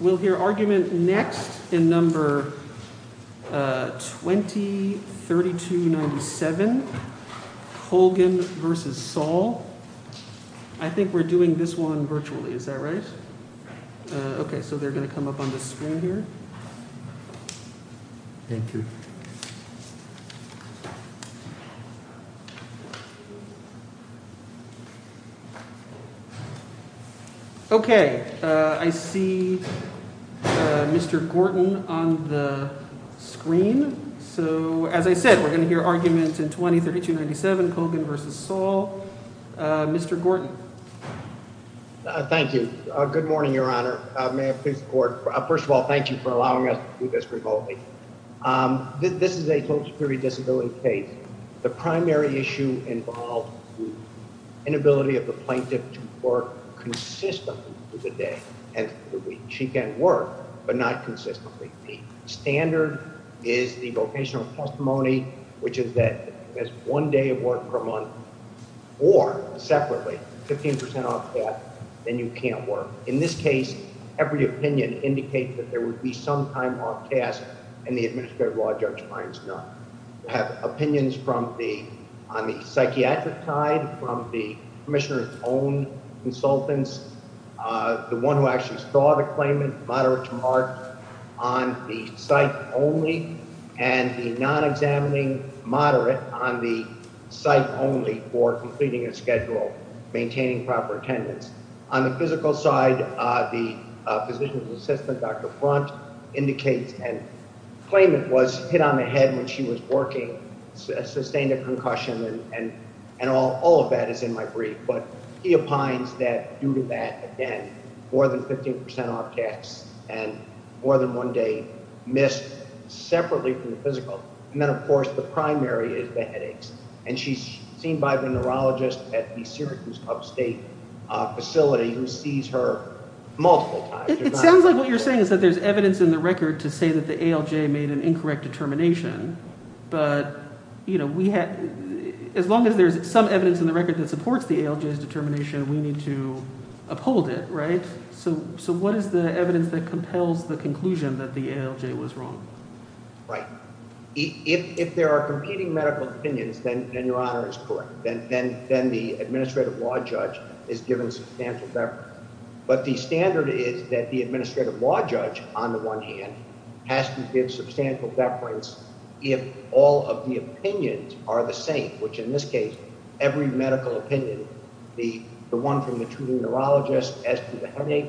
We'll hear argument next in No. 203297, Colgan v. Saul. I think we're doing this one virtually, is that right? Okay, so they're going to come up on the screen here. Thank you. Okay, I see Mr. Gorton on the screen. So, as I said, we're going to hear argument in No. 203297, Colgan v. Saul. Mr. Gorton. Thank you. Good morning, Your Honor. First of all, thank you for allowing us to do this remotely. This is a social security disability case. The primary issue involves the inability of the plaintiff to work consistently through the day and through the week. She can work, but not consistently. The standard is the vocational testimony, which is that if you miss one day of work per month or separately, 15% off that, then you can't work. In this case, every opinion indicates that there would be some time off task, and the administrative law judge finds none. We have opinions on the psychiatric side, from the commissioner's own consultants, the one who actually saw the claimant, moderate to moderate, on the site only, and the non-examining moderate on the site only for completing a schedule, maintaining proper attendance. On the physical side, the physician's assistant, Dr. Front, indicates that the claimant was hit on the head when she was working, sustained a concussion, and all of that is in my brief. But he opines that due to that, again, more than 15% off tasks and more than one day missed separately from the physical. And then, of course, the primary is the headaches. And she's seen by the neurologist at the Syracuse upstate facility who sees her multiple times. It sounds like what you're saying is that there's evidence in the record to say that the ALJ made an incorrect determination. But as long as there's some evidence in the record that supports the ALJ's determination, we need to uphold it, right? So what is the evidence that compels the conclusion that the ALJ was wrong? Right. If there are competing medical opinions, then your honor is correct. Then the administrative law judge is given substantial deference. But the standard is that the administrative law judge, on the one hand, has to give substantial deference if all of the opinions are the same, which in this case, every medical opinion, the one from the treating neurologist as to the headache.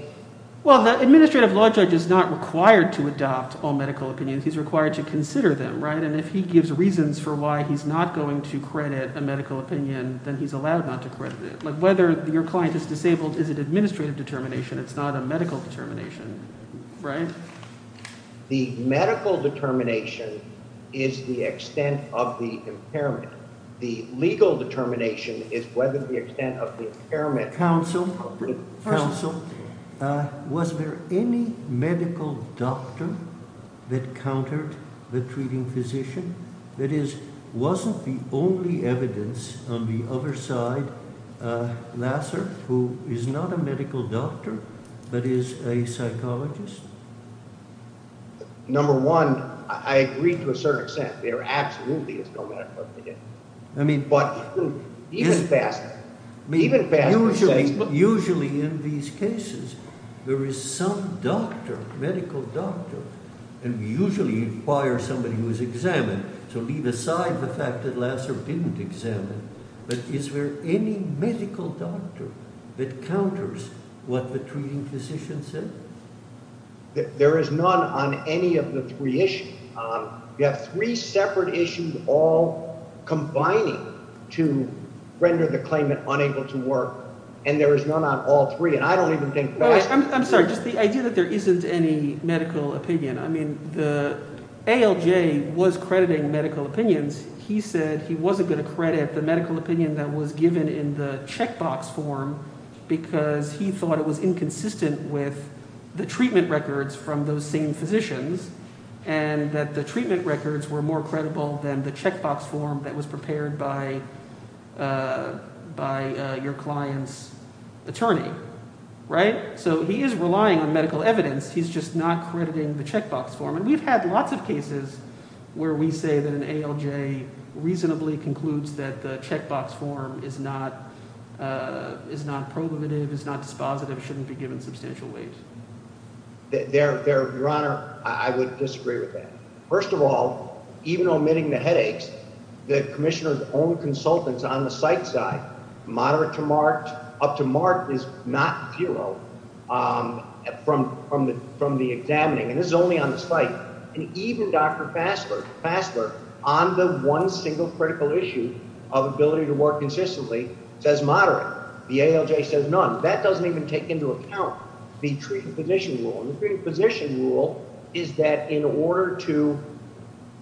Well, the administrative law judge is not required to adopt all medical opinions. He's required to consider them, right? And if he gives reasons for why he's not going to credit a medical opinion, then he's allowed not to credit it. But whether your client is disabled is an administrative determination. It's not a medical determination, right? The medical determination is the extent of the impairment. The legal determination is whether the extent of the impairment. Counsel, was there any medical doctor that countered the treating physician? That is, wasn't the only evidence on the other side Lasser, who is not a medical doctor but is a psychologist? Number one, I agree to a certain extent. There absolutely is no medical opinion. Even faster. Usually in these cases, there is some doctor, medical doctor, and we usually inquire somebody who's examined. So leave aside the fact that Lasser didn't examine. But is there any medical doctor that counters what the treating physician said? There is none on any of the three issues. You have three separate issues all combining to render the claimant unable to work. And there is none on all three. And I don't even think that— I'm sorry. Just the idea that there isn't any medical opinion. I mean the ALJ was crediting medical opinions. He said he wasn't going to credit the medical opinion that was given in the checkbox form because he thought it was inconsistent with the treatment records from those same physicians. And that the treatment records were more credible than the checkbox form that was prepared by your client's attorney. Right? So he is relying on medical evidence. He's just not crediting the checkbox form. And we've had lots of cases where we say that an ALJ reasonably concludes that the checkbox form is not probative, is not dispositive, shouldn't be given substantial weight. Your Honor, I would disagree with that. First of all, even omitting the headaches, the commissioner's own consultants on the site side, moderate to marked, up to marked is not zero from the examining. And this is only on the site. And even Dr. Fassler on the one single critical issue of ability to work consistently says moderate. The ALJ says none. That doesn't even take into account the treating physician rule. And the treating physician rule is that in order to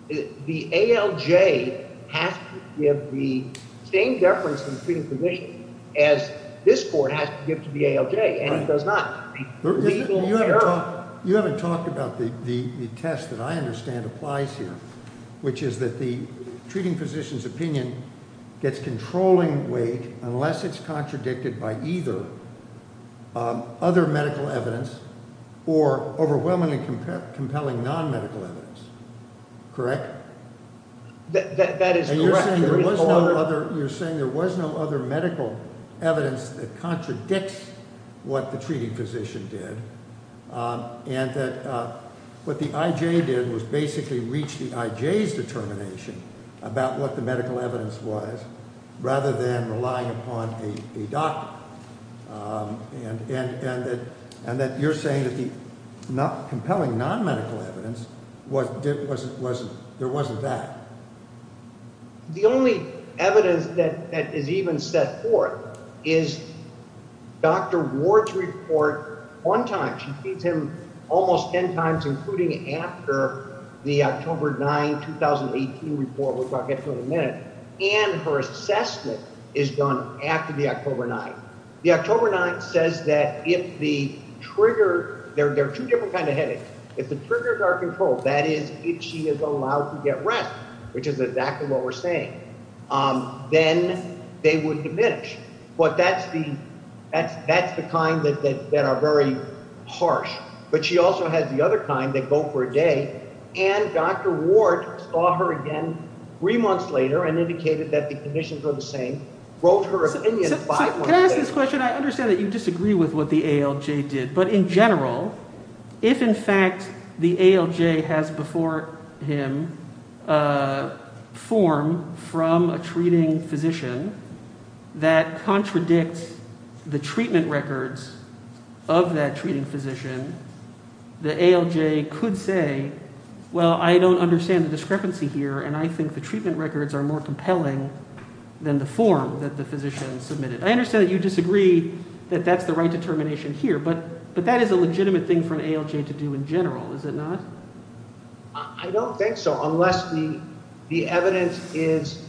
the ALJ has to give the same deference to the treating physician as this court has to give to the ALJ. And it does not. You haven't talked about the test that I understand applies here, which is that the treating physician's opinion gets controlling weight unless it's contradicted by either other medical evidence or overwhelmingly compelling non-medical evidence. Correct? That is correct. You're saying there was no other medical evidence that contradicts what the treating physician did. And that what the IJ did was basically reach the IJ's determination about what the medical evidence was rather than relying upon a doctor. And that you're saying that the compelling non-medical evidence, there wasn't that. The only evidence that is even set forth is Dr. Ward's report one time. She feeds him almost ten times, including after the October 9, 2018 report, which I'll get to in a minute. And her assessment is done after the October 9. The October 9 says that if the trigger – there are two different kinds of headaches. If the triggers are controlled, that is, if she is allowed to get rest, which is exactly what we're saying, then they would diminish. But that's the kind that are very harsh. But she also has the other kind that go for a day. And Dr. Ward saw her again three months later and indicated that the conditions were the same. Wrote her opinion five months later. Can I ask this question? I understand that you disagree with what the ALJ did. But in general, if in fact the ALJ has before him a form from a treating physician that contradicts the treatment records of that treating physician, the ALJ could say, well, I don't understand the discrepancy here. And I think the treatment records are more compelling than the form that the physician submitted. I understand that you disagree that that's the right determination here. But that is a legitimate thing for an ALJ to do in general, is it not? I don't think so unless the evidence is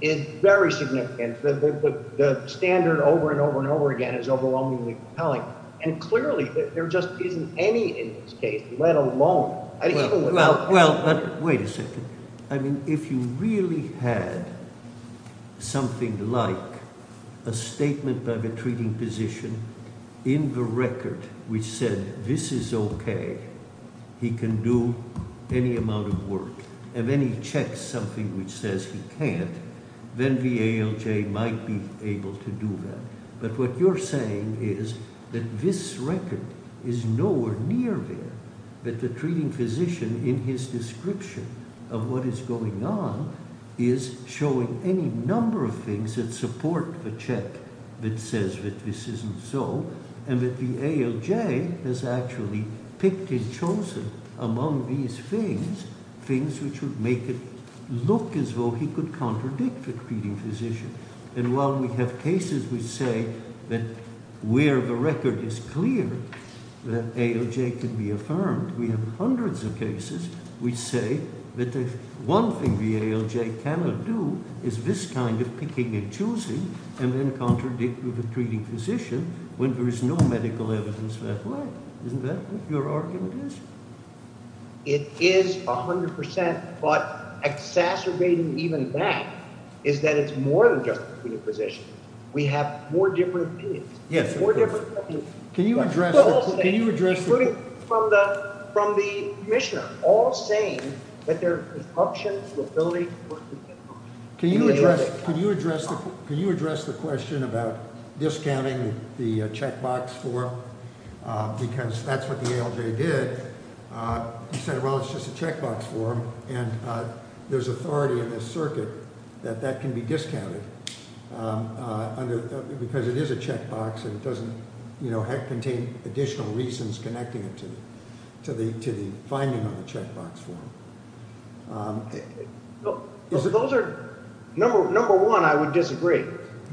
very significant. The standard over and over and over again is overwhelmingly compelling. And clearly there just isn't any in this case, let alone – Well, wait a second. I mean, if you really had something like a statement by the treating physician in the record which said this is okay, he can do any amount of work. And then he checks something which says he can't, then the ALJ might be able to do that. But what you're saying is that this record is nowhere near there, that the treating physician in his description of what is going on is showing any number of things that support the check that says that this isn't so, and that the ALJ has actually picked and chosen among these things, things which would make it look as though he could contradict the treating physician. And while we have cases which say that where the record is clear that ALJ can be affirmed, we have hundreds of cases which say that the one thing the ALJ cannot do is this kind of picking and choosing and then contradict with the treating physician when there is no medical evidence that way. Isn't that what your argument is? It is 100%, but exacerbating even that is that it's more than just the treating physician. We have four different opinions. Yes, of course. Four different opinions. Can you address the – Including from the commissioner, all saying that there is corruption, liability. Can you address the question about discounting the checkbox form? Because that's what the ALJ did. He said, well, it's just a checkbox form, and there's authority in this circuit that that can be discounted because it is a checkbox and it doesn't contain additional reasons connecting it to the finding on the checkbox form. Those are – number one, I would disagree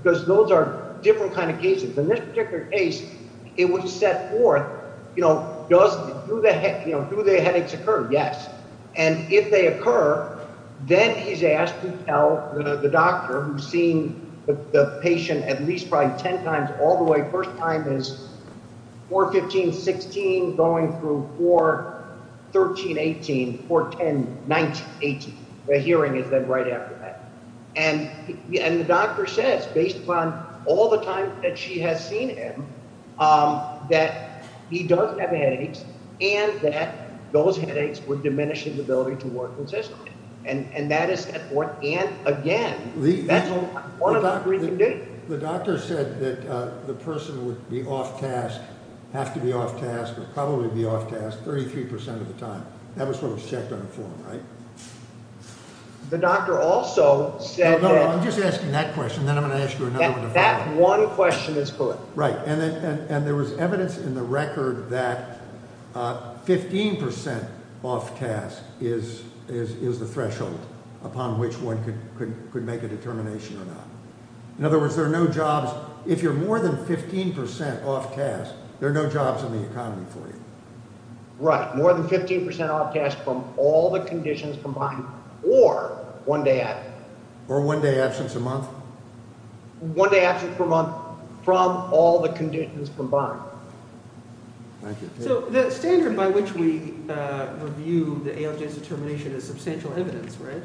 because those are different kind of cases. The hearing is then right after that. And the doctor says, based upon all the time that she has seen him, that he does have headaches and that those headaches would diminish his ability to work consistently. And that is – and, again, that's one of the things we can do. The doctor said that the person would be off-task, have to be off-task, or probably be off-task 33 percent of the time. That was what was checked on the form, right? The doctor also said that – No, no, I'm just asking that question. Then I'm going to ask you another one. That one question is put. Right. And there was evidence in the record that 15 percent off-task is the threshold upon which one could make a determination or not. In other words, there are no jobs – if you're more than 15 percent off-task, there are no jobs in the economy for you. Right. More than 15 percent off-task from all the conditions combined or one day absence. Or one day absence a month. One day absence per month from all the conditions combined. Thank you. So the standard by which we review the ALJ's determination is substantial evidence, right?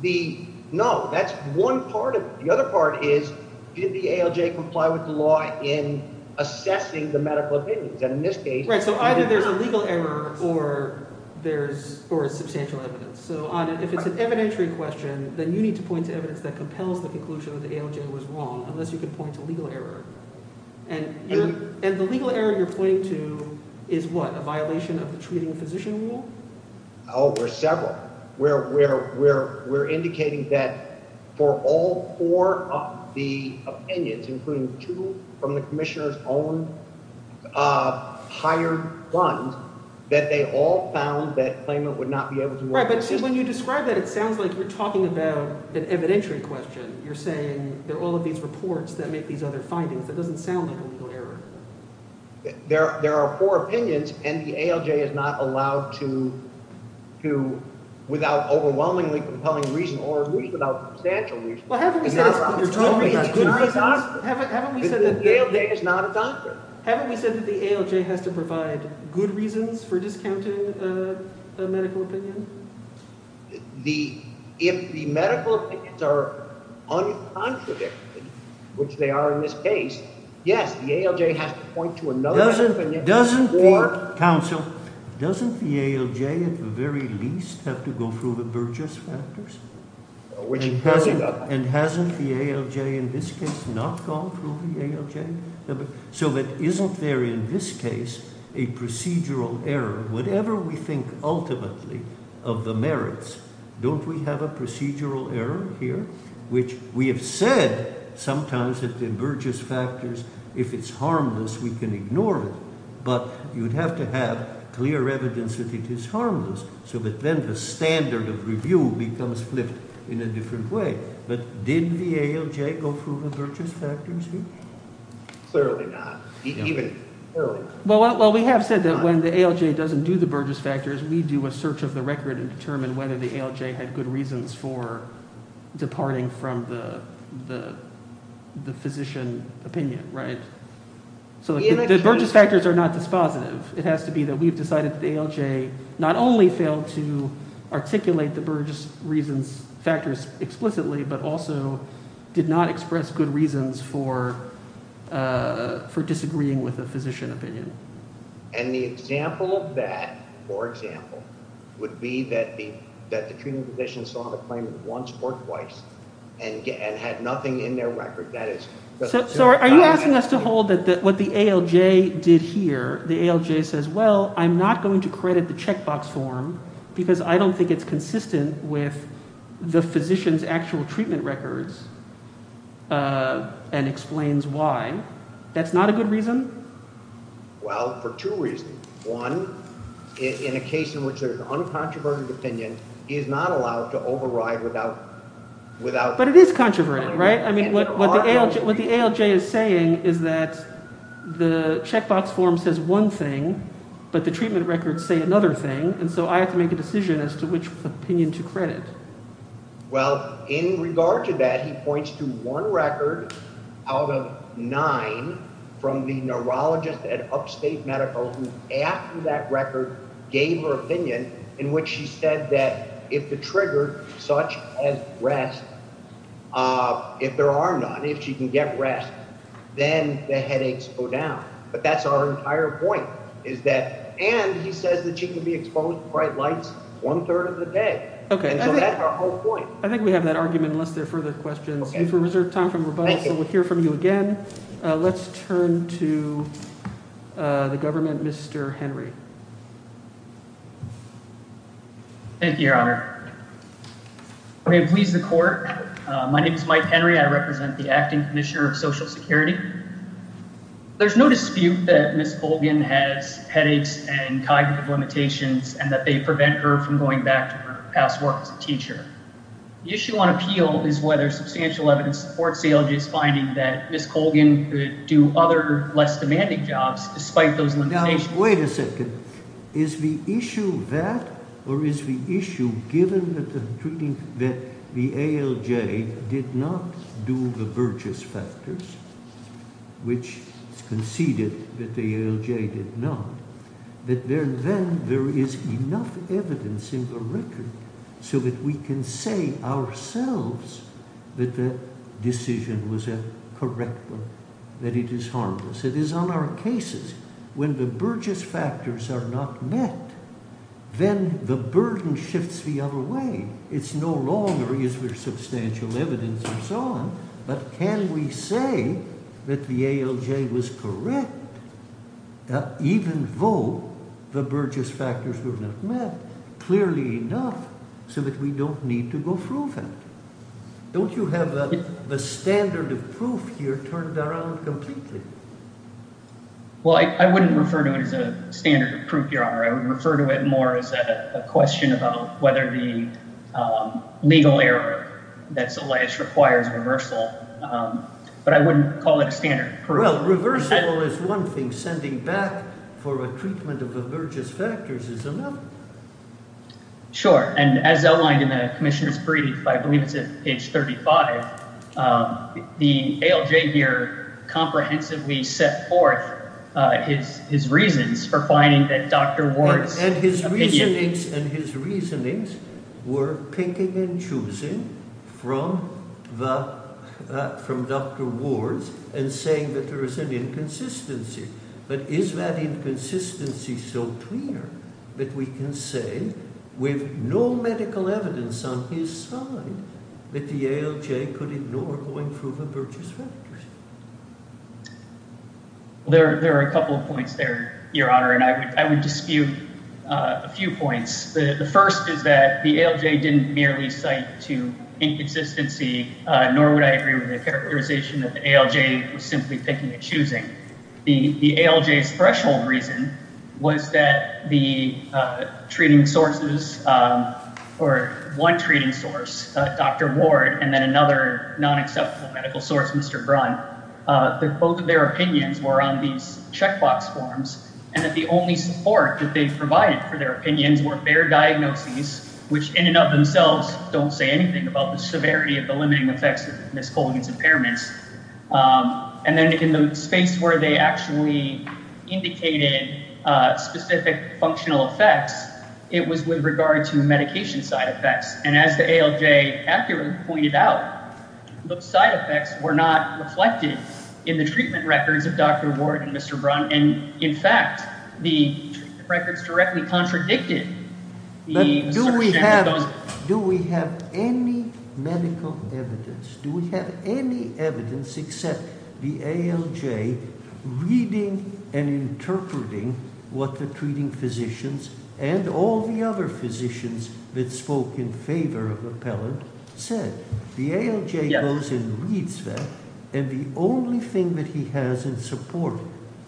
The – no. That's one part of it. The other part is did the ALJ comply with the law in assessing the medical opinions? And in this case – Right. So either there's a legal error or there's substantial evidence. So if it's an evidentiary question, then you need to point to evidence that compels the conclusion that the ALJ was wrong unless you can point to legal error. And the legal error you're pointing to is what? A violation of the treating physician rule? Oh, there's several. We're indicating that for all four of the opinions, including two from the commissioner's own hired funds, that they all found that claimant would not be able to – Right, but when you describe that, it sounds like you're talking about an evidentiary question. You're saying there are all of these reports that make these other findings. That doesn't sound like a legal error. There are four opinions, and the ALJ is not allowed to – without overwhelmingly compelling reason or at least without substantial reason – Well, haven't we said – You're talking about good reasons. Haven't we said that – The ALJ is not a doctor. Haven't we said that the ALJ has to provide good reasons for discounting a medical opinion? If the medical opinions are uncontradicted, which they are in this case, yes, the ALJ has to point to another opinion. Doesn't the – Or – Counsel, doesn't the ALJ at the very least have to go through the Burgess factors? Which you're talking about. And hasn't the ALJ in this case not gone through the ALJ? So that isn't there in this case a procedural error? Whatever we think ultimately of the merits, don't we have a procedural error here? Which we have said sometimes that the Burgess factors, if it's harmless, we can ignore it. But you'd have to have clear evidence that it is harmless so that then the standard of review becomes flipped in a different way. But didn't the ALJ go through the Burgess factors? Clearly not. Even – Well, we have said that when the ALJ doesn't do the Burgess factors, we do a search of the record and determine whether the ALJ had good reasons for departing from the physician opinion. Right? So the Burgess factors are not dispositive. It has to be that we've decided that the ALJ not only failed to articulate the Burgess reasons – factors explicitly, but also did not express good reasons for disagreeing with the physician opinion. And the example of that, for example, would be that the treating physician saw the claim once or twice and had nothing in their record. So are you asking us to hold that what the ALJ did here, the ALJ says, well, I'm not going to credit the checkbox form because I don't think it's consistent with the physician's actual treatment records and explains why. That's not a good reason? Well, for two reasons. One, in a case in which there's uncontroverted opinion is not allowed to override without – But it is controverted, right? What the ALJ is saying is that the checkbox form says one thing, but the treatment records say another thing, and so I have to make a decision as to which opinion to credit. Well, in regard to that, he points to one record out of nine from the neurologist at Upstate Medical who, after that record, gave her opinion in which she said that if the trigger such as rest – if there are none, if she can get rest, then the headaches go down. But that's our entire point is that – and he says that she can be exposed to bright lights one-third of the day. Okay, so that's our whole point. I think we have that argument unless there are further questions. Okay. We have reserved time for rebuttal, so we'll hear from you again. Let's turn to the government, Mr. Henry. Thank you, Your Honor. May it please the court, my name is Mike Henry. I represent the Acting Commissioner of Social Security. There's no dispute that Ms. Colgan has headaches and cognitive limitations and that they prevent her from going back to her past work as a teacher. The issue on appeal is whether substantial evidence supports ALJ's finding that Ms. Colgan could do other, less demanding jobs despite those limitations. Wait a second. Is the issue that or is the issue given that the ALJ did not do the Burgess factors, which conceded that the ALJ did not, that then there is enough evidence in the record so that we can say ourselves that the decision was a correct one, that it is harmless? It is on our cases. When the Burgess factors are not met, then the burden shifts the other way. It's no longer is there substantial evidence and so on, but can we say that the ALJ was correct even though the Burgess factors were not met clearly enough so that we don't need to go through that? Don't you have the standard of proof here turned around completely? Well, I wouldn't refer to it as a standard of proof, Your Honor. I would refer to it more as a question about whether the legal error that's alleged requires reversal, but I wouldn't call it a standard of proof. Well, reversal is one thing. Sending back for a treatment of the Burgess factors is another. Sure, and as outlined in the Commissioner's brief, I believe it's at page 35, the ALJ here comprehensively set forth his reasons for finding that Dr. Ward's opinion… And his reasonings were picking and choosing from Dr. Ward's and saying that there is an inconsistency. But is that inconsistency so clear that we can say with no medical evidence on his side that the ALJ could ignore going through the Burgess factors? There are a couple of points there, Your Honor, and I would dispute a few points. The first is that the ALJ didn't merely cite to inconsistency, nor would I agree with the characterization that the ALJ was simply picking and choosing. The ALJ's threshold reason was that the treating sources or one treating source, Dr. Ward, and then another non-acceptable medical source, Mr. Brunn, that both of their opinions were on these checkbox forms and that the only support that they provided for their opinions were their diagnoses, which in and of themselves don't say anything about the severity of the limiting effects of miscalling its impairments. And then in the space where they actually indicated specific functional effects, it was with regard to medication side effects. And as the ALJ accurately pointed out, those side effects were not reflected in the treatment records of Dr. Ward and Mr. Brunn. And, in fact, the records directly contradicted the assertion that those… except the ALJ reading and interpreting what the treating physicians and all the other physicians that spoke in favor of the appellant said. The ALJ goes and reads that, and the only thing that he has in support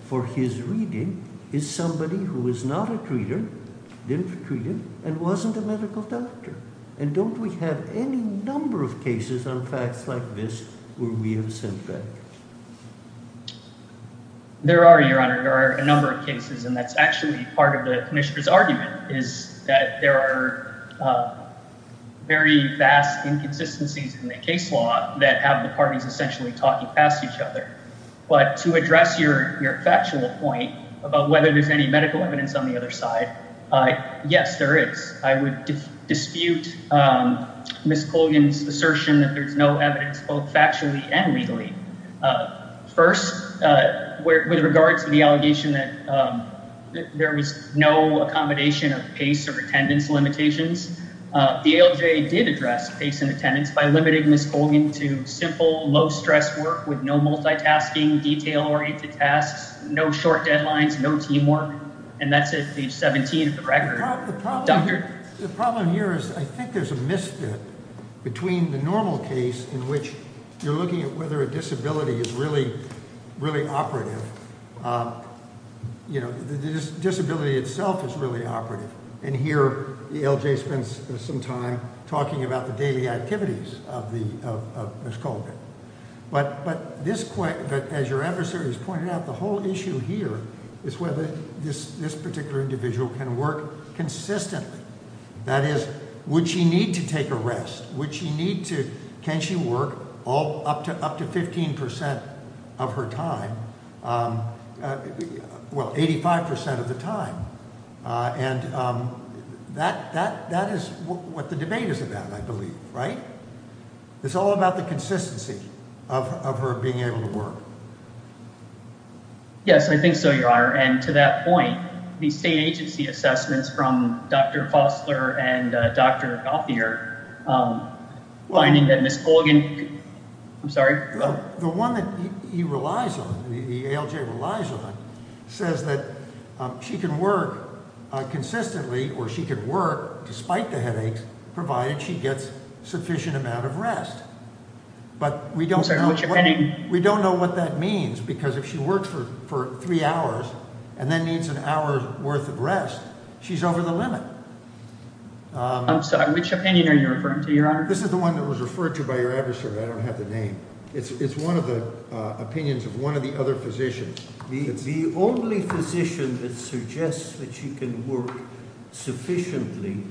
for his reading is somebody who is not a treater, didn't treat him, and wasn't a medical doctor. And don't we have any number of cases on facts like this where we have said that? There are, Your Honor. There are a number of cases, and that's actually part of the commissioner's argument, is that there are very vast inconsistencies in the case law that have the parties essentially talking past each other. But to address your factual point about whether there's any medical evidence on the other side, yes, there is. I would dispute Ms. Colgan's assertion that there's no evidence both factually and legally. First, with regard to the allegation that there was no accommodation of pace or attendance limitations, the ALJ did address pace and attendance by limiting Ms. Colgan to simple, low-stress work with no multitasking, detail-oriented tasks, no short deadlines, no teamwork. And that's at page 17 of the record. The problem here is I think there's a misfit between the normal case in which you're looking at whether a disability is really operative. You know, the disability itself is really operative. And here the ALJ spends some time talking about the daily activities of Ms. Colgan. But as your adversary has pointed out, the whole issue here is whether this particular individual can work consistently. That is, would she need to take a rest? Can she work up to 15% of her time? Well, 85% of the time. And that is what the debate is about, I believe, right? It's all about the consistency of her being able to work. Yes, I think so, Your Honor. And to that point, the state agency assessments from Dr. Fosler and Dr. Gauthier finding that Ms. Colgan – I'm sorry? The one that he relies on, the ALJ relies on, says that she can work consistently or she can work despite the headaches provided she gets sufficient amount of rest. But we don't know what that means because if she works for three hours and then needs an hour's worth of rest, she's over the limit. I'm sorry, which opinion are you referring to, Your Honor? This is the one that was referred to by your adversary. I don't have the name. It's one of the opinions of one of the other physicians. The only physician that suggests that she can work sufficiently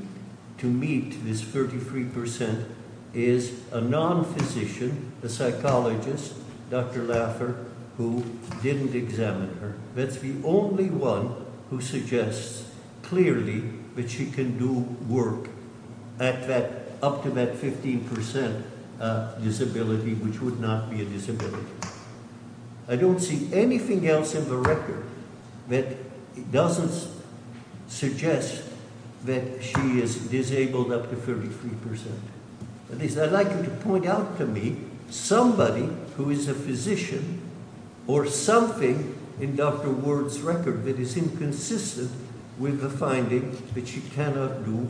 to meet this 33% is a non-physician, a psychologist, Dr. Laffer, who didn't examine her. That's the only one who suggests clearly that she can do work up to that 15% disability, which would not be a disability. I don't see anything else in the record that doesn't suggest that she is disabled up to 33%. That is, I'd like you to point out to me somebody who is a physician or something in Dr. Ward's record that is inconsistent with the finding that she cannot do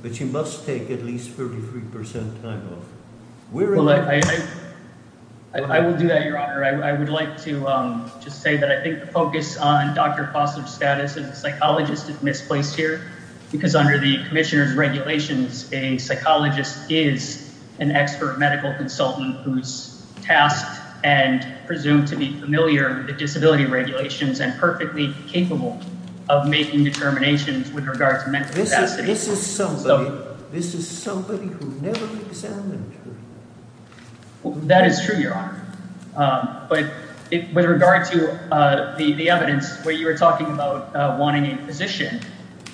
but she must take at least 33% time off. I will do that, Your Honor. I would like to just say that I think the focus on Dr. Foster's status as a psychologist is misplaced here because under the commissioner's regulations, a psychologist is an expert medical consultant who is tasked and presumed to be familiar with the disability regulations and perfectly capable of making determinations with regard to mental capacity. This is somebody who never examined her. That is true, Your Honor. But with regard to the evidence where you were talking about wanting a physician,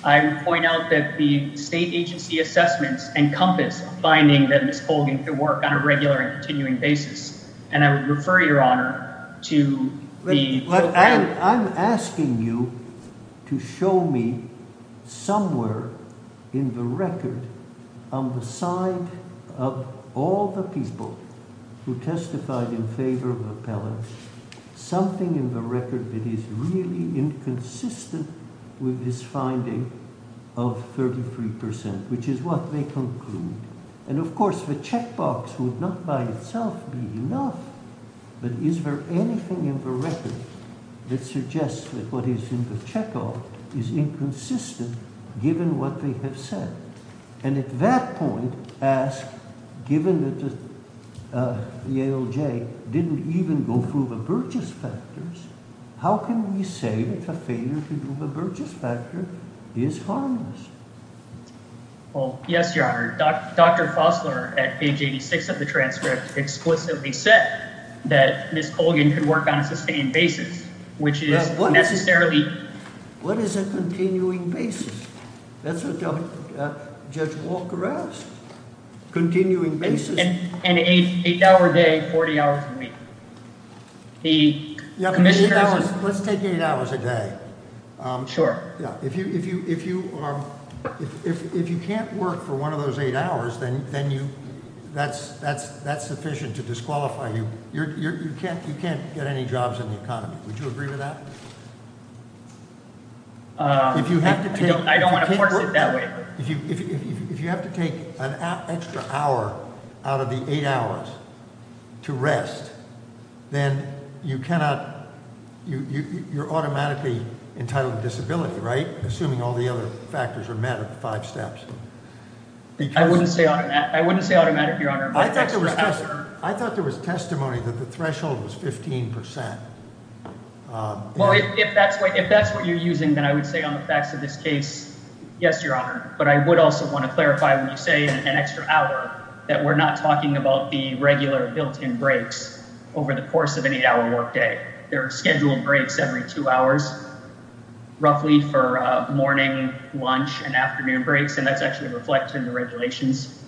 I would point out that the state agency assessments encompass a finding that Ms. Colgan could work on a regular and continuing basis. I'm asking you to show me somewhere in the record on the side of all the people who testified in favor of the appellant something in the record that is really inconsistent with this finding of 33%, which is what they conclude. Of course, the checkbox would not by itself be enough, but is there anything in the record that suggests that what is in the checkoff is inconsistent given what they have said? At that point, given that the ALJ didn't even go through the Burgess factors, how can we say that a failure to do the Burgess factor is harmless? Yes, Your Honor. Dr. Fosler at age 86 of the transcript explicitly said that Ms. Colgan could work on a sustained basis, which is necessarily… What is a continuing basis? That's what Judge Walker asked. Continuing basis. An eight-hour day, 40 hours a week. Let's take eight hours a day. Sure. If you can't work for one of those eight hours, then that's sufficient to disqualify you. You can't get any jobs in the economy. Would you agree with that? I don't want to force it that way. If you have to take an extra hour out of the eight hours to rest, then you cannot – you're automatically entitled to disability, right? Assuming all the other factors are met at the five steps. I wouldn't say automatic, Your Honor. I thought there was testimony that the threshold was 15%. Well, if that's what you're using, then I would say on the facts of this case, yes, Your Honor. But I would also want to clarify when you say an extra hour that we're not talking about the regular built-in breaks over the course of an eight-hour workday. There are scheduled breaks every two hours, roughly for morning, lunch, and afternoon breaks, and that's actually reflected in the regulations.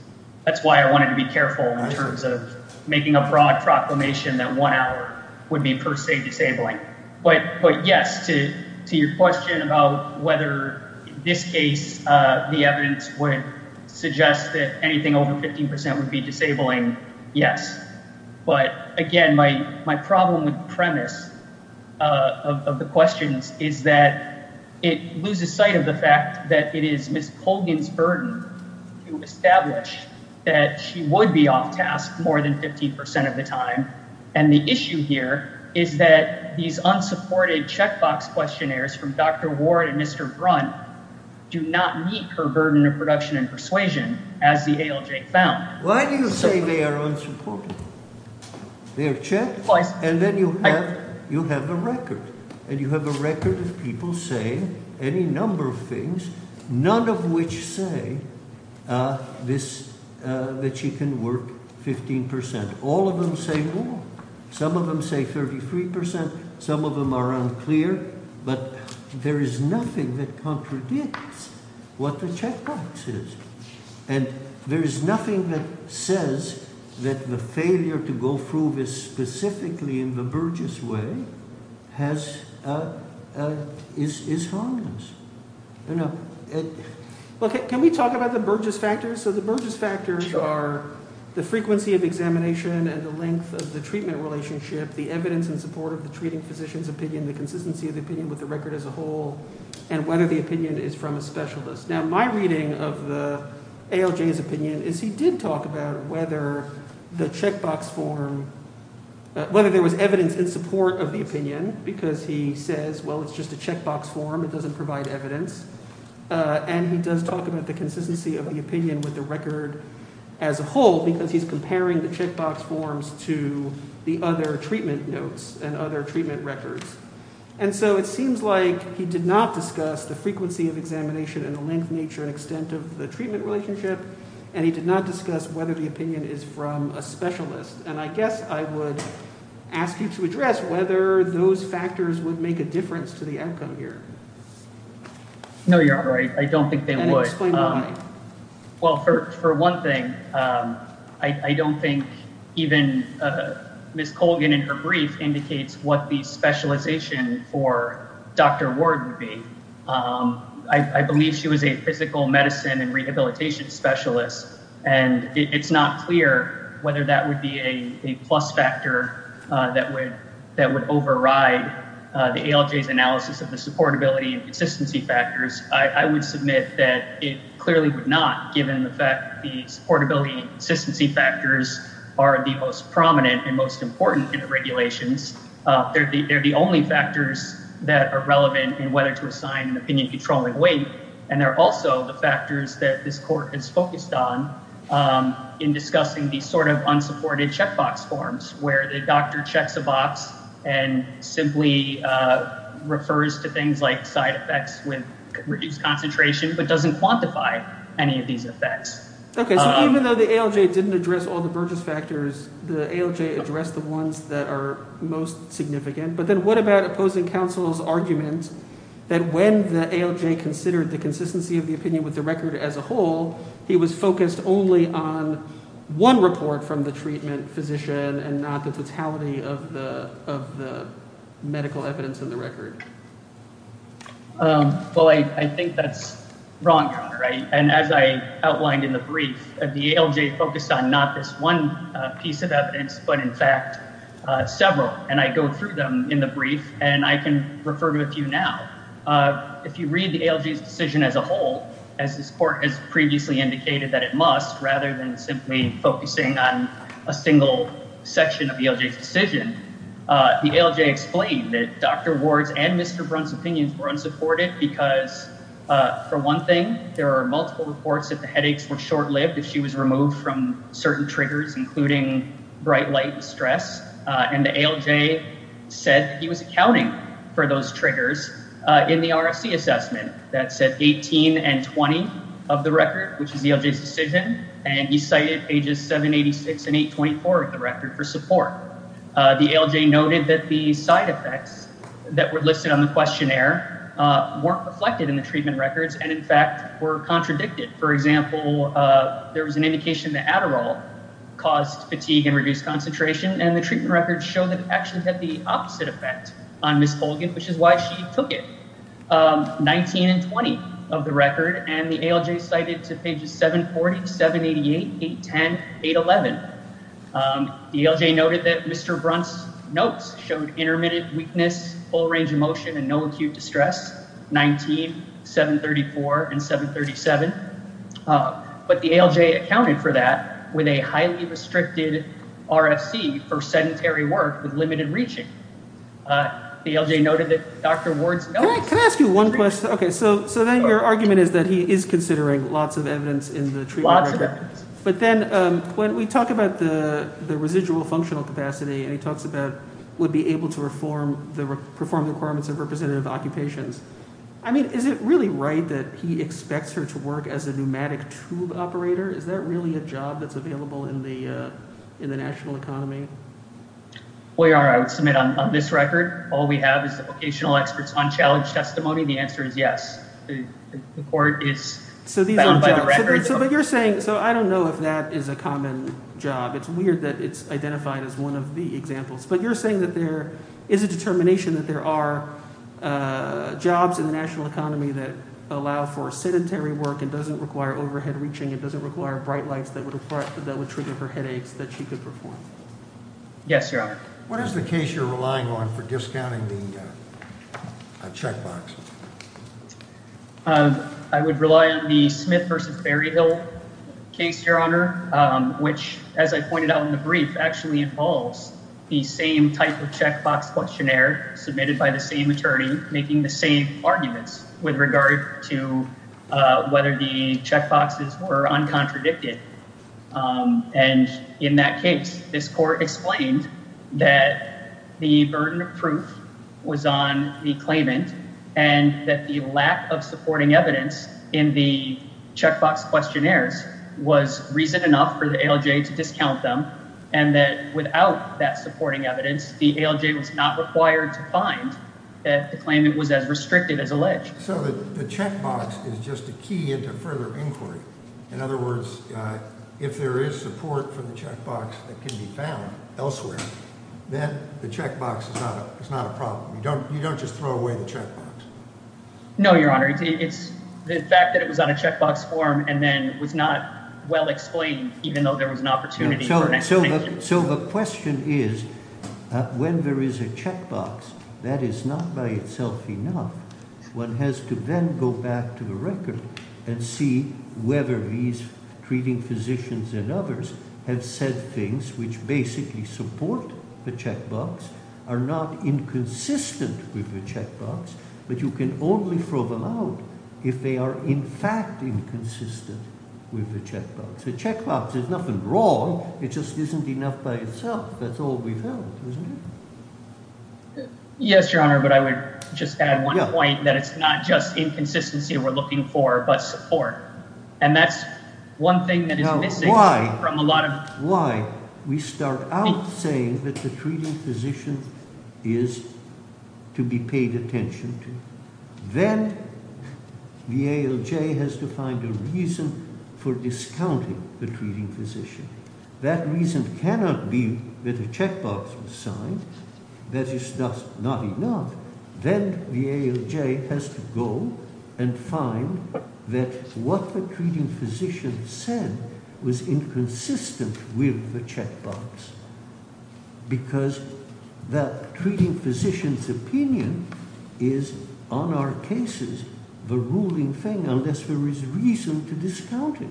That's why I wanted to be careful in terms of making a broad proclamation that one hour would be per se disabling. But, yes, to your question about whether in this case the evidence would suggest that anything over 15% would be disabling, yes. But, again, my problem with the premise of the questions is that it loses sight of the fact that it is Ms. Colgan's burden to establish that she would be off-task more than 15% of the time. And the issue here is that these unsupported checkbox questionnaires from Dr. Ward and Mr. Brunt do not meet her burden of production and persuasion, as the ALJ found. Why do you say they are unsupported? They are checked, and then you have a record, and you have a record of people saying any number of things, none of which say that she can work 15%. All of them say more. Some of them say 33%. Some of them are unclear. But there is nothing that contradicts what the checkbox is. And there is nothing that says that the failure to go through this specifically in the Burgess way has – is harmless. Can we talk about the Burgess factors? So the Burgess factors are the frequency of examination and the length of the treatment relationship, the evidence in support of the treating physician's opinion, the consistency of the opinion with the record as a whole, and whether the opinion is from a specialist. Now, my reading of the ALJ's opinion is he did talk about whether the checkbox form – whether there was evidence in support of the opinion because he says, well, it's just a checkbox form. It doesn't provide evidence. And he does talk about the consistency of the opinion with the record as a whole because he's comparing the checkbox forms to the other treatment notes and other treatment records. And so it seems like he did not discuss the frequency of examination and the length, nature, and extent of the treatment relationship, and he did not discuss whether the opinion is from a specialist. And I guess I would ask you to address whether those factors would make a difference to the outcome here. No, Your Honor. I don't think they would. Then explain why. Well, for one thing, I don't think even Ms. Colgan in her brief indicates what the specialization for Dr. Ward would be. I believe she was a physical medicine and rehabilitation specialist, and it's not clear whether that would be a plus factor that would override the ALJ's analysis of the supportability and consistency factors. I would submit that it clearly would not, given the fact that the supportability and consistency factors are the most prominent and most important in the regulations. They're the only factors that are relevant in whether to assign an opinion controlling weight. And they're also the factors that this court is focused on in discussing these sort of unsupported checkbox forms where the doctor checks a box and simply refers to things like side effects with reduced concentration but doesn't quantify any of these effects. Okay, so even though the ALJ didn't address all the Burgess factors, the ALJ addressed the ones that are most significant. But then what about opposing counsel's argument that when the ALJ considered the consistency of the opinion with the record as a whole, he was focused only on one report from the treatment physician and not the totality of the medical evidence in the record? Well, I think that's wrong, Your Honor, and as I outlined in the brief, the ALJ focused on not this one piece of evidence, but in fact several, and I go through them in the brief, and I can refer to a few now. If you read the ALJ's decision as a whole, as this court has previously indicated that it must, rather than simply focusing on a single section of the ALJ's decision, the ALJ explained that Dr. Ward's and Mr. Brunt's opinions were unsupported because, for one thing, there are multiple reports that the headaches were short-lived if she was removed from certain triggers, including bright light and stress. And the ALJ said that he was accounting for those triggers in the RFC assessment that said 18 and 20 of the record, which is the ALJ's decision, and he cited pages 786 and 824 of the record for support. The ALJ noted that the side effects that were listed on the questionnaire weren't reflected in the treatment records and, in fact, were contradicted. For example, there was an indication that Adderall caused fatigue and reduced concentration, and the treatment records show that it actually had the opposite effect on Ms. Holgen, which is why she took it, 19 and 20 of the record, and the ALJ cited to pages 740, 788, 810, 811. The ALJ noted that Mr. Brunt's notes showed intermittent weakness, full range of motion, and no acute distress, 19, 734, and 737, but the ALJ accounted for that with a highly restricted RFC for sedentary work with limited reaching. The ALJ noted that Dr. Ward's notes… Can I ask you one question? Okay, so then your argument is that he is considering lots of evidence in the treatment records. Lots of evidence. But then when we talk about the residual functional capacity and he talks about would be able to perform the requirements of representative occupations, I mean, is it really right that he expects her to work as a pneumatic tube operator? Is that really a job that's available in the national economy? I would submit on this record all we have is the vocational experts on challenge testimony. The answer is yes. The court is… So these are jobs. …bound by the record. It's weird that it's identified as one of the examples. But you're saying that there is a determination that there are jobs in the national economy that allow for sedentary work and doesn't require overhead reaching and doesn't require bright lights that would trigger her headaches that she could perform? Yes, Your Honor. What is the case you're relying on for discounting the checkbox? I would rely on the Smith v. Berryhill case, Your Honor, which, as I pointed out in the brief, actually involves the same type of checkbox questionnaire submitted by the same attorney making the same arguments with regard to whether the checkboxes were uncontradicted. And in that case, this court explained that the burden of proof was on the claimant and that the lack of supporting evidence in the checkbox questionnaires was reason enough for the ALJ to discount them and that without that supporting evidence, the ALJ was not required to find that the claimant was as restricted as alleged. So the checkbox is just a key into further inquiry. In other words, if there is support for the checkbox that can be found elsewhere, then the checkbox is not a problem. You don't just throw away the checkbox. No, Your Honor. The fact that it was on a checkbox form and then was not well explained even though there was an opportunity for an explanation. So the question is when there is a checkbox that is not by itself enough, one has to then go back to the record and see whether these treating physicians and others have said things which basically support the checkbox, are not inconsistent with the checkbox, but you can only throw them out if they are in fact inconsistent with the checkbox. If the checkbox is nothing wrong, it just isn't enough by itself. That's all we've heard, isn't it? Yes, Your Honor, but I would just add one point that it's not just inconsistency we're looking for, but support. And that's one thing that is missing from a lot of… That reason cannot be that a checkbox was signed, that it's just not enough. Then the ALJ has to go and find that what the treating physician said was inconsistent with the checkbox because the treating physician's opinion is on our cases the ruling thing unless there is reason to discount it.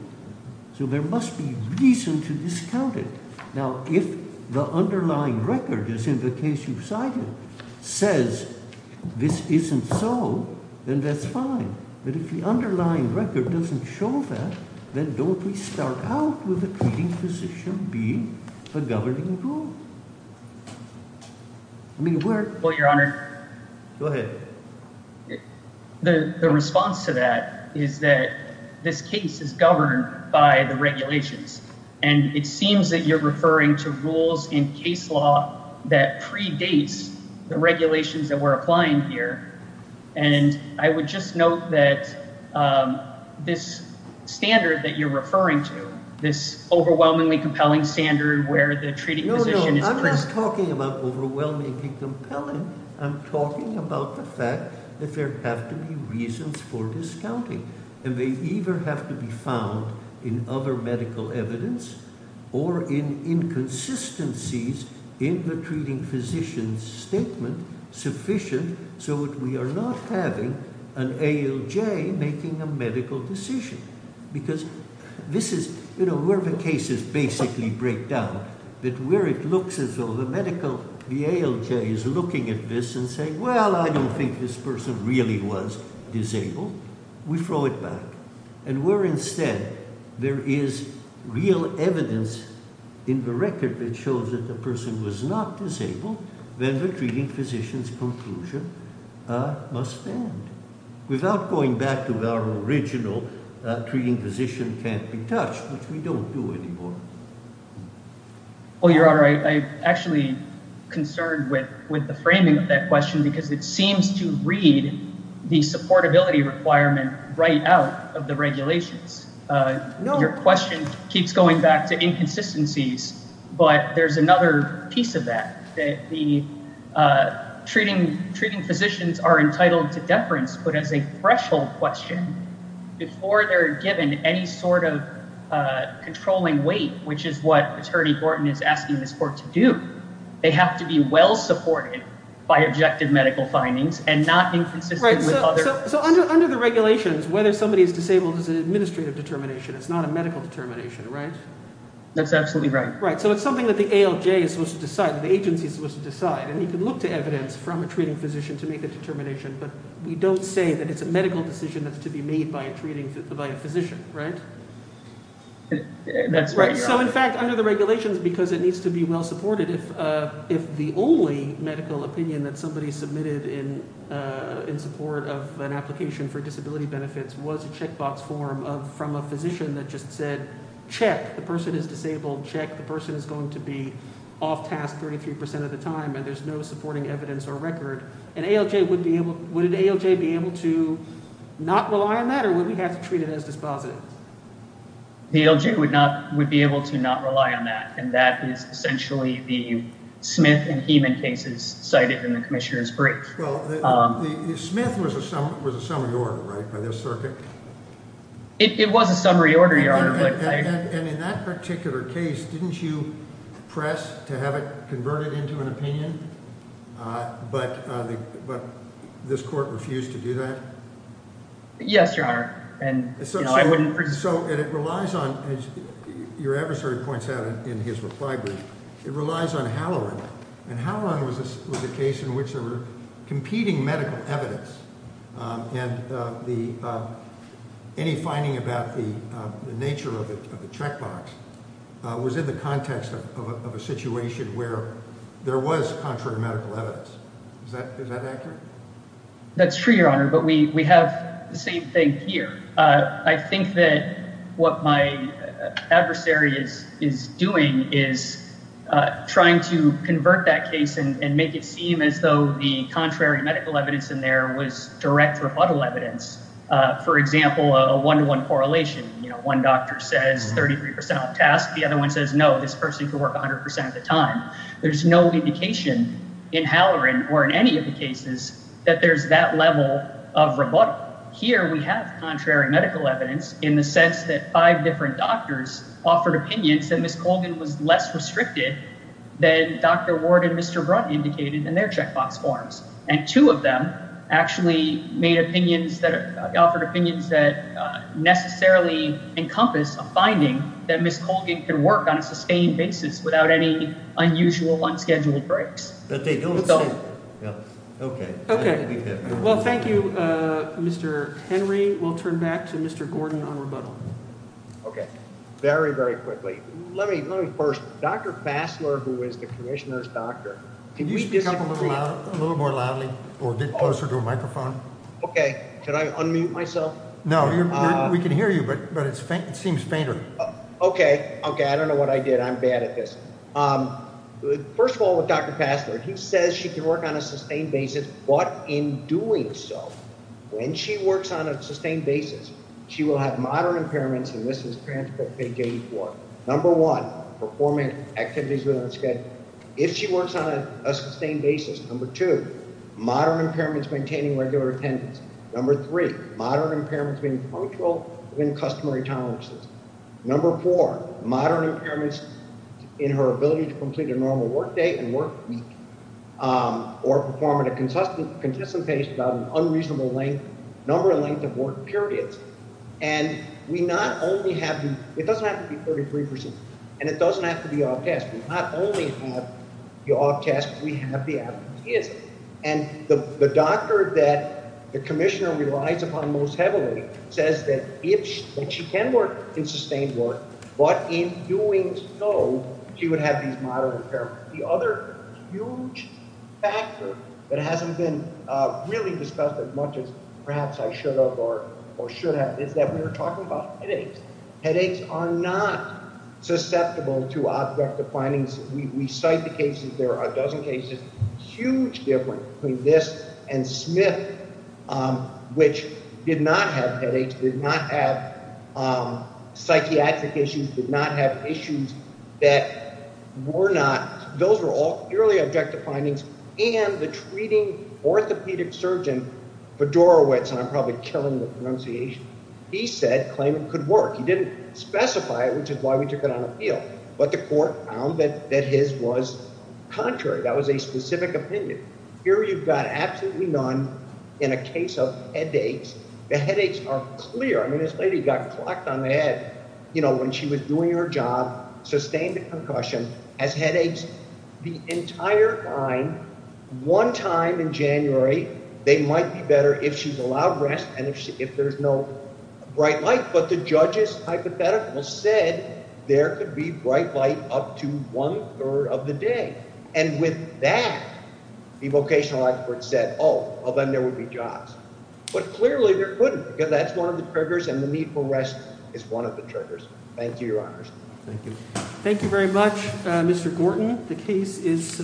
So there must be reason to discount it. Now if the underlying record, as in the case you've cited, says this isn't so, then that's fine. But if the underlying record doesn't show that, then don't we start out with the treating physician being the governing rule? Well, Your Honor, the response to that is that this case is governed by the regulations. And it seems that you're referring to rules in case law that predates the regulations that we're applying here. And I would just note that this standard that you're referring to, this overwhelmingly compelling standard where the treating physician is… We are not having an ALJ making a medical decision because this is where the cases basically break down, that where it looks as though the medical… the ALJ is looking at this and saying, well, I don't think this person really was disabled. We throw it back. And where instead there is real evidence in the record that shows that the person was not disabled, then the treating physician's conclusion must stand. Without going back to our original treating physician can't be touched, which we don't do anymore. Well, Your Honor, I'm actually concerned with the framing of that question because it seems to read the supportability requirement right out of the regulations. Your question keeps going back to inconsistencies, but there's another piece of that. The treating physicians are entitled to deference, but as a threshold question, before they're given any sort of controlling weight, which is what Attorney Gordon is asking this court to do, they have to be well supported by objective medical findings and not inconsistent with other… So under the regulations, whether somebody is disabled is an administrative determination. It's not a medical determination, right? That's absolutely right. Right. So it's something that the ALJ is supposed to decide, that the agency is supposed to decide. And you can look to evidence from a treating physician to make a determination, but we don't say that it's a medical decision that's to be made by a treating… by a physician, right? That's right, Your Honor. So in fact, under the regulations, because it needs to be well supported, if the only medical opinion that somebody submitted in support of an application for disability benefits was a checkbox form from a physician that just said, check, the person is disabled, check, the person is going to be off task 33% of the time and there's no supporting evidence or record, an ALJ would be able – would an ALJ be able to not rely on that or would we have to treat it as dispositive? The ALJ would not – would be able to not rely on that. And that is essentially the Smith and Heeman cases cited in the Commissioner's brief. Well, the – Smith was a summary order, right, by this circuit? It was a summary order, Your Honor, but… And in that particular case, didn't you press to have it converted into an opinion? But this court refused to do that? Yes, Your Honor. And, you know, I wouldn't… But it relies on, as your adversary points out in his reply brief, it relies on Halloran. And Halloran was a case in which there were competing medical evidence and the – any finding about the nature of the checkbox was in the context of a situation where there was contrary medical evidence. Is that accurate? That's true, Your Honor, but we have the same thing here. I think that what my adversary is doing is trying to convert that case and make it seem as though the contrary medical evidence in there was direct or fuddle evidence. For example, a one-to-one correlation. You know, one doctor says 33 percent off task, the other one says no, this person could work 100 percent of the time. There's no indication in Halloran or in any of the cases that there's that level of rebuttal. They offered opinions that necessarily encompass a finding that Ms. Colgan can work on a sustained basis without any unusual, unscheduled breaks. Okay. Well, thank you, Mr. Henry. We'll turn back to Mr. Gordon on rebuttal. Okay. Very, very quickly. Let me first – Dr. Fassler, who is the commissioner's doctor. Can you speak up a little more loudly or get closer to a microphone? Okay. Can I unmute myself? No. We can hear you, but it seems fainter. Okay. Okay. I don't know what I did. I'm bad at this. First of all, with Dr. Fassler, he says she can work on a sustained basis, but in doing so, when she works on a sustained basis, she will have modern impairments, and this is transcript page 84. Number one, performing activities within the schedule, if she works on a sustained basis. Number two, modern impairments maintaining regular attendance. Number three, modern impairments being punctual within customary tolerances. Number four, modern impairments in her ability to complete a normal work day and work week or perform at a consistent pace without an unreasonable length – number and length of work periods. And we not only have – it doesn't have to be 33 percent, and it doesn't have to be off task. We not only have the off task, we have the advocacy. And the doctor that the commissioner relies upon most heavily says that if – that she can work in sustained work, but in doing so, she would have these modern impairments. The other huge factor that hasn't been really discussed as much as perhaps I should have or should have is that we're talking about headaches. Headaches are not susceptible to objective findings. We cite the cases. There are a dozen cases. Huge difference between this and Smith, which did not have headaches, did not have psychiatric issues, did not have issues that were not – those were all purely objective findings. And the treating orthopedic surgeon Fedorowicz – and I'm probably killing the pronunciation – he said – claimed it could work. He didn't specify it, which is why we took it on appeal. But the court found that his was contrary. That was a specific opinion. Here you've got absolutely none in a case of headaches. The headaches are clear. I mean, this lady got clocked on the head when she was doing her job, sustained a concussion, has headaches the entire time, one time in January. They might be better if she's allowed rest and if there's no bright light. But the judge's hypothetical said there could be bright light up to one third of the day. And with that, the vocational experts said, oh, well then there would be jobs. But clearly there couldn't because that's one of the triggers and the need for rest is one of the triggers. Thank you, Your Honors. Thank you very much, Mr. Gorton. The case is submitted.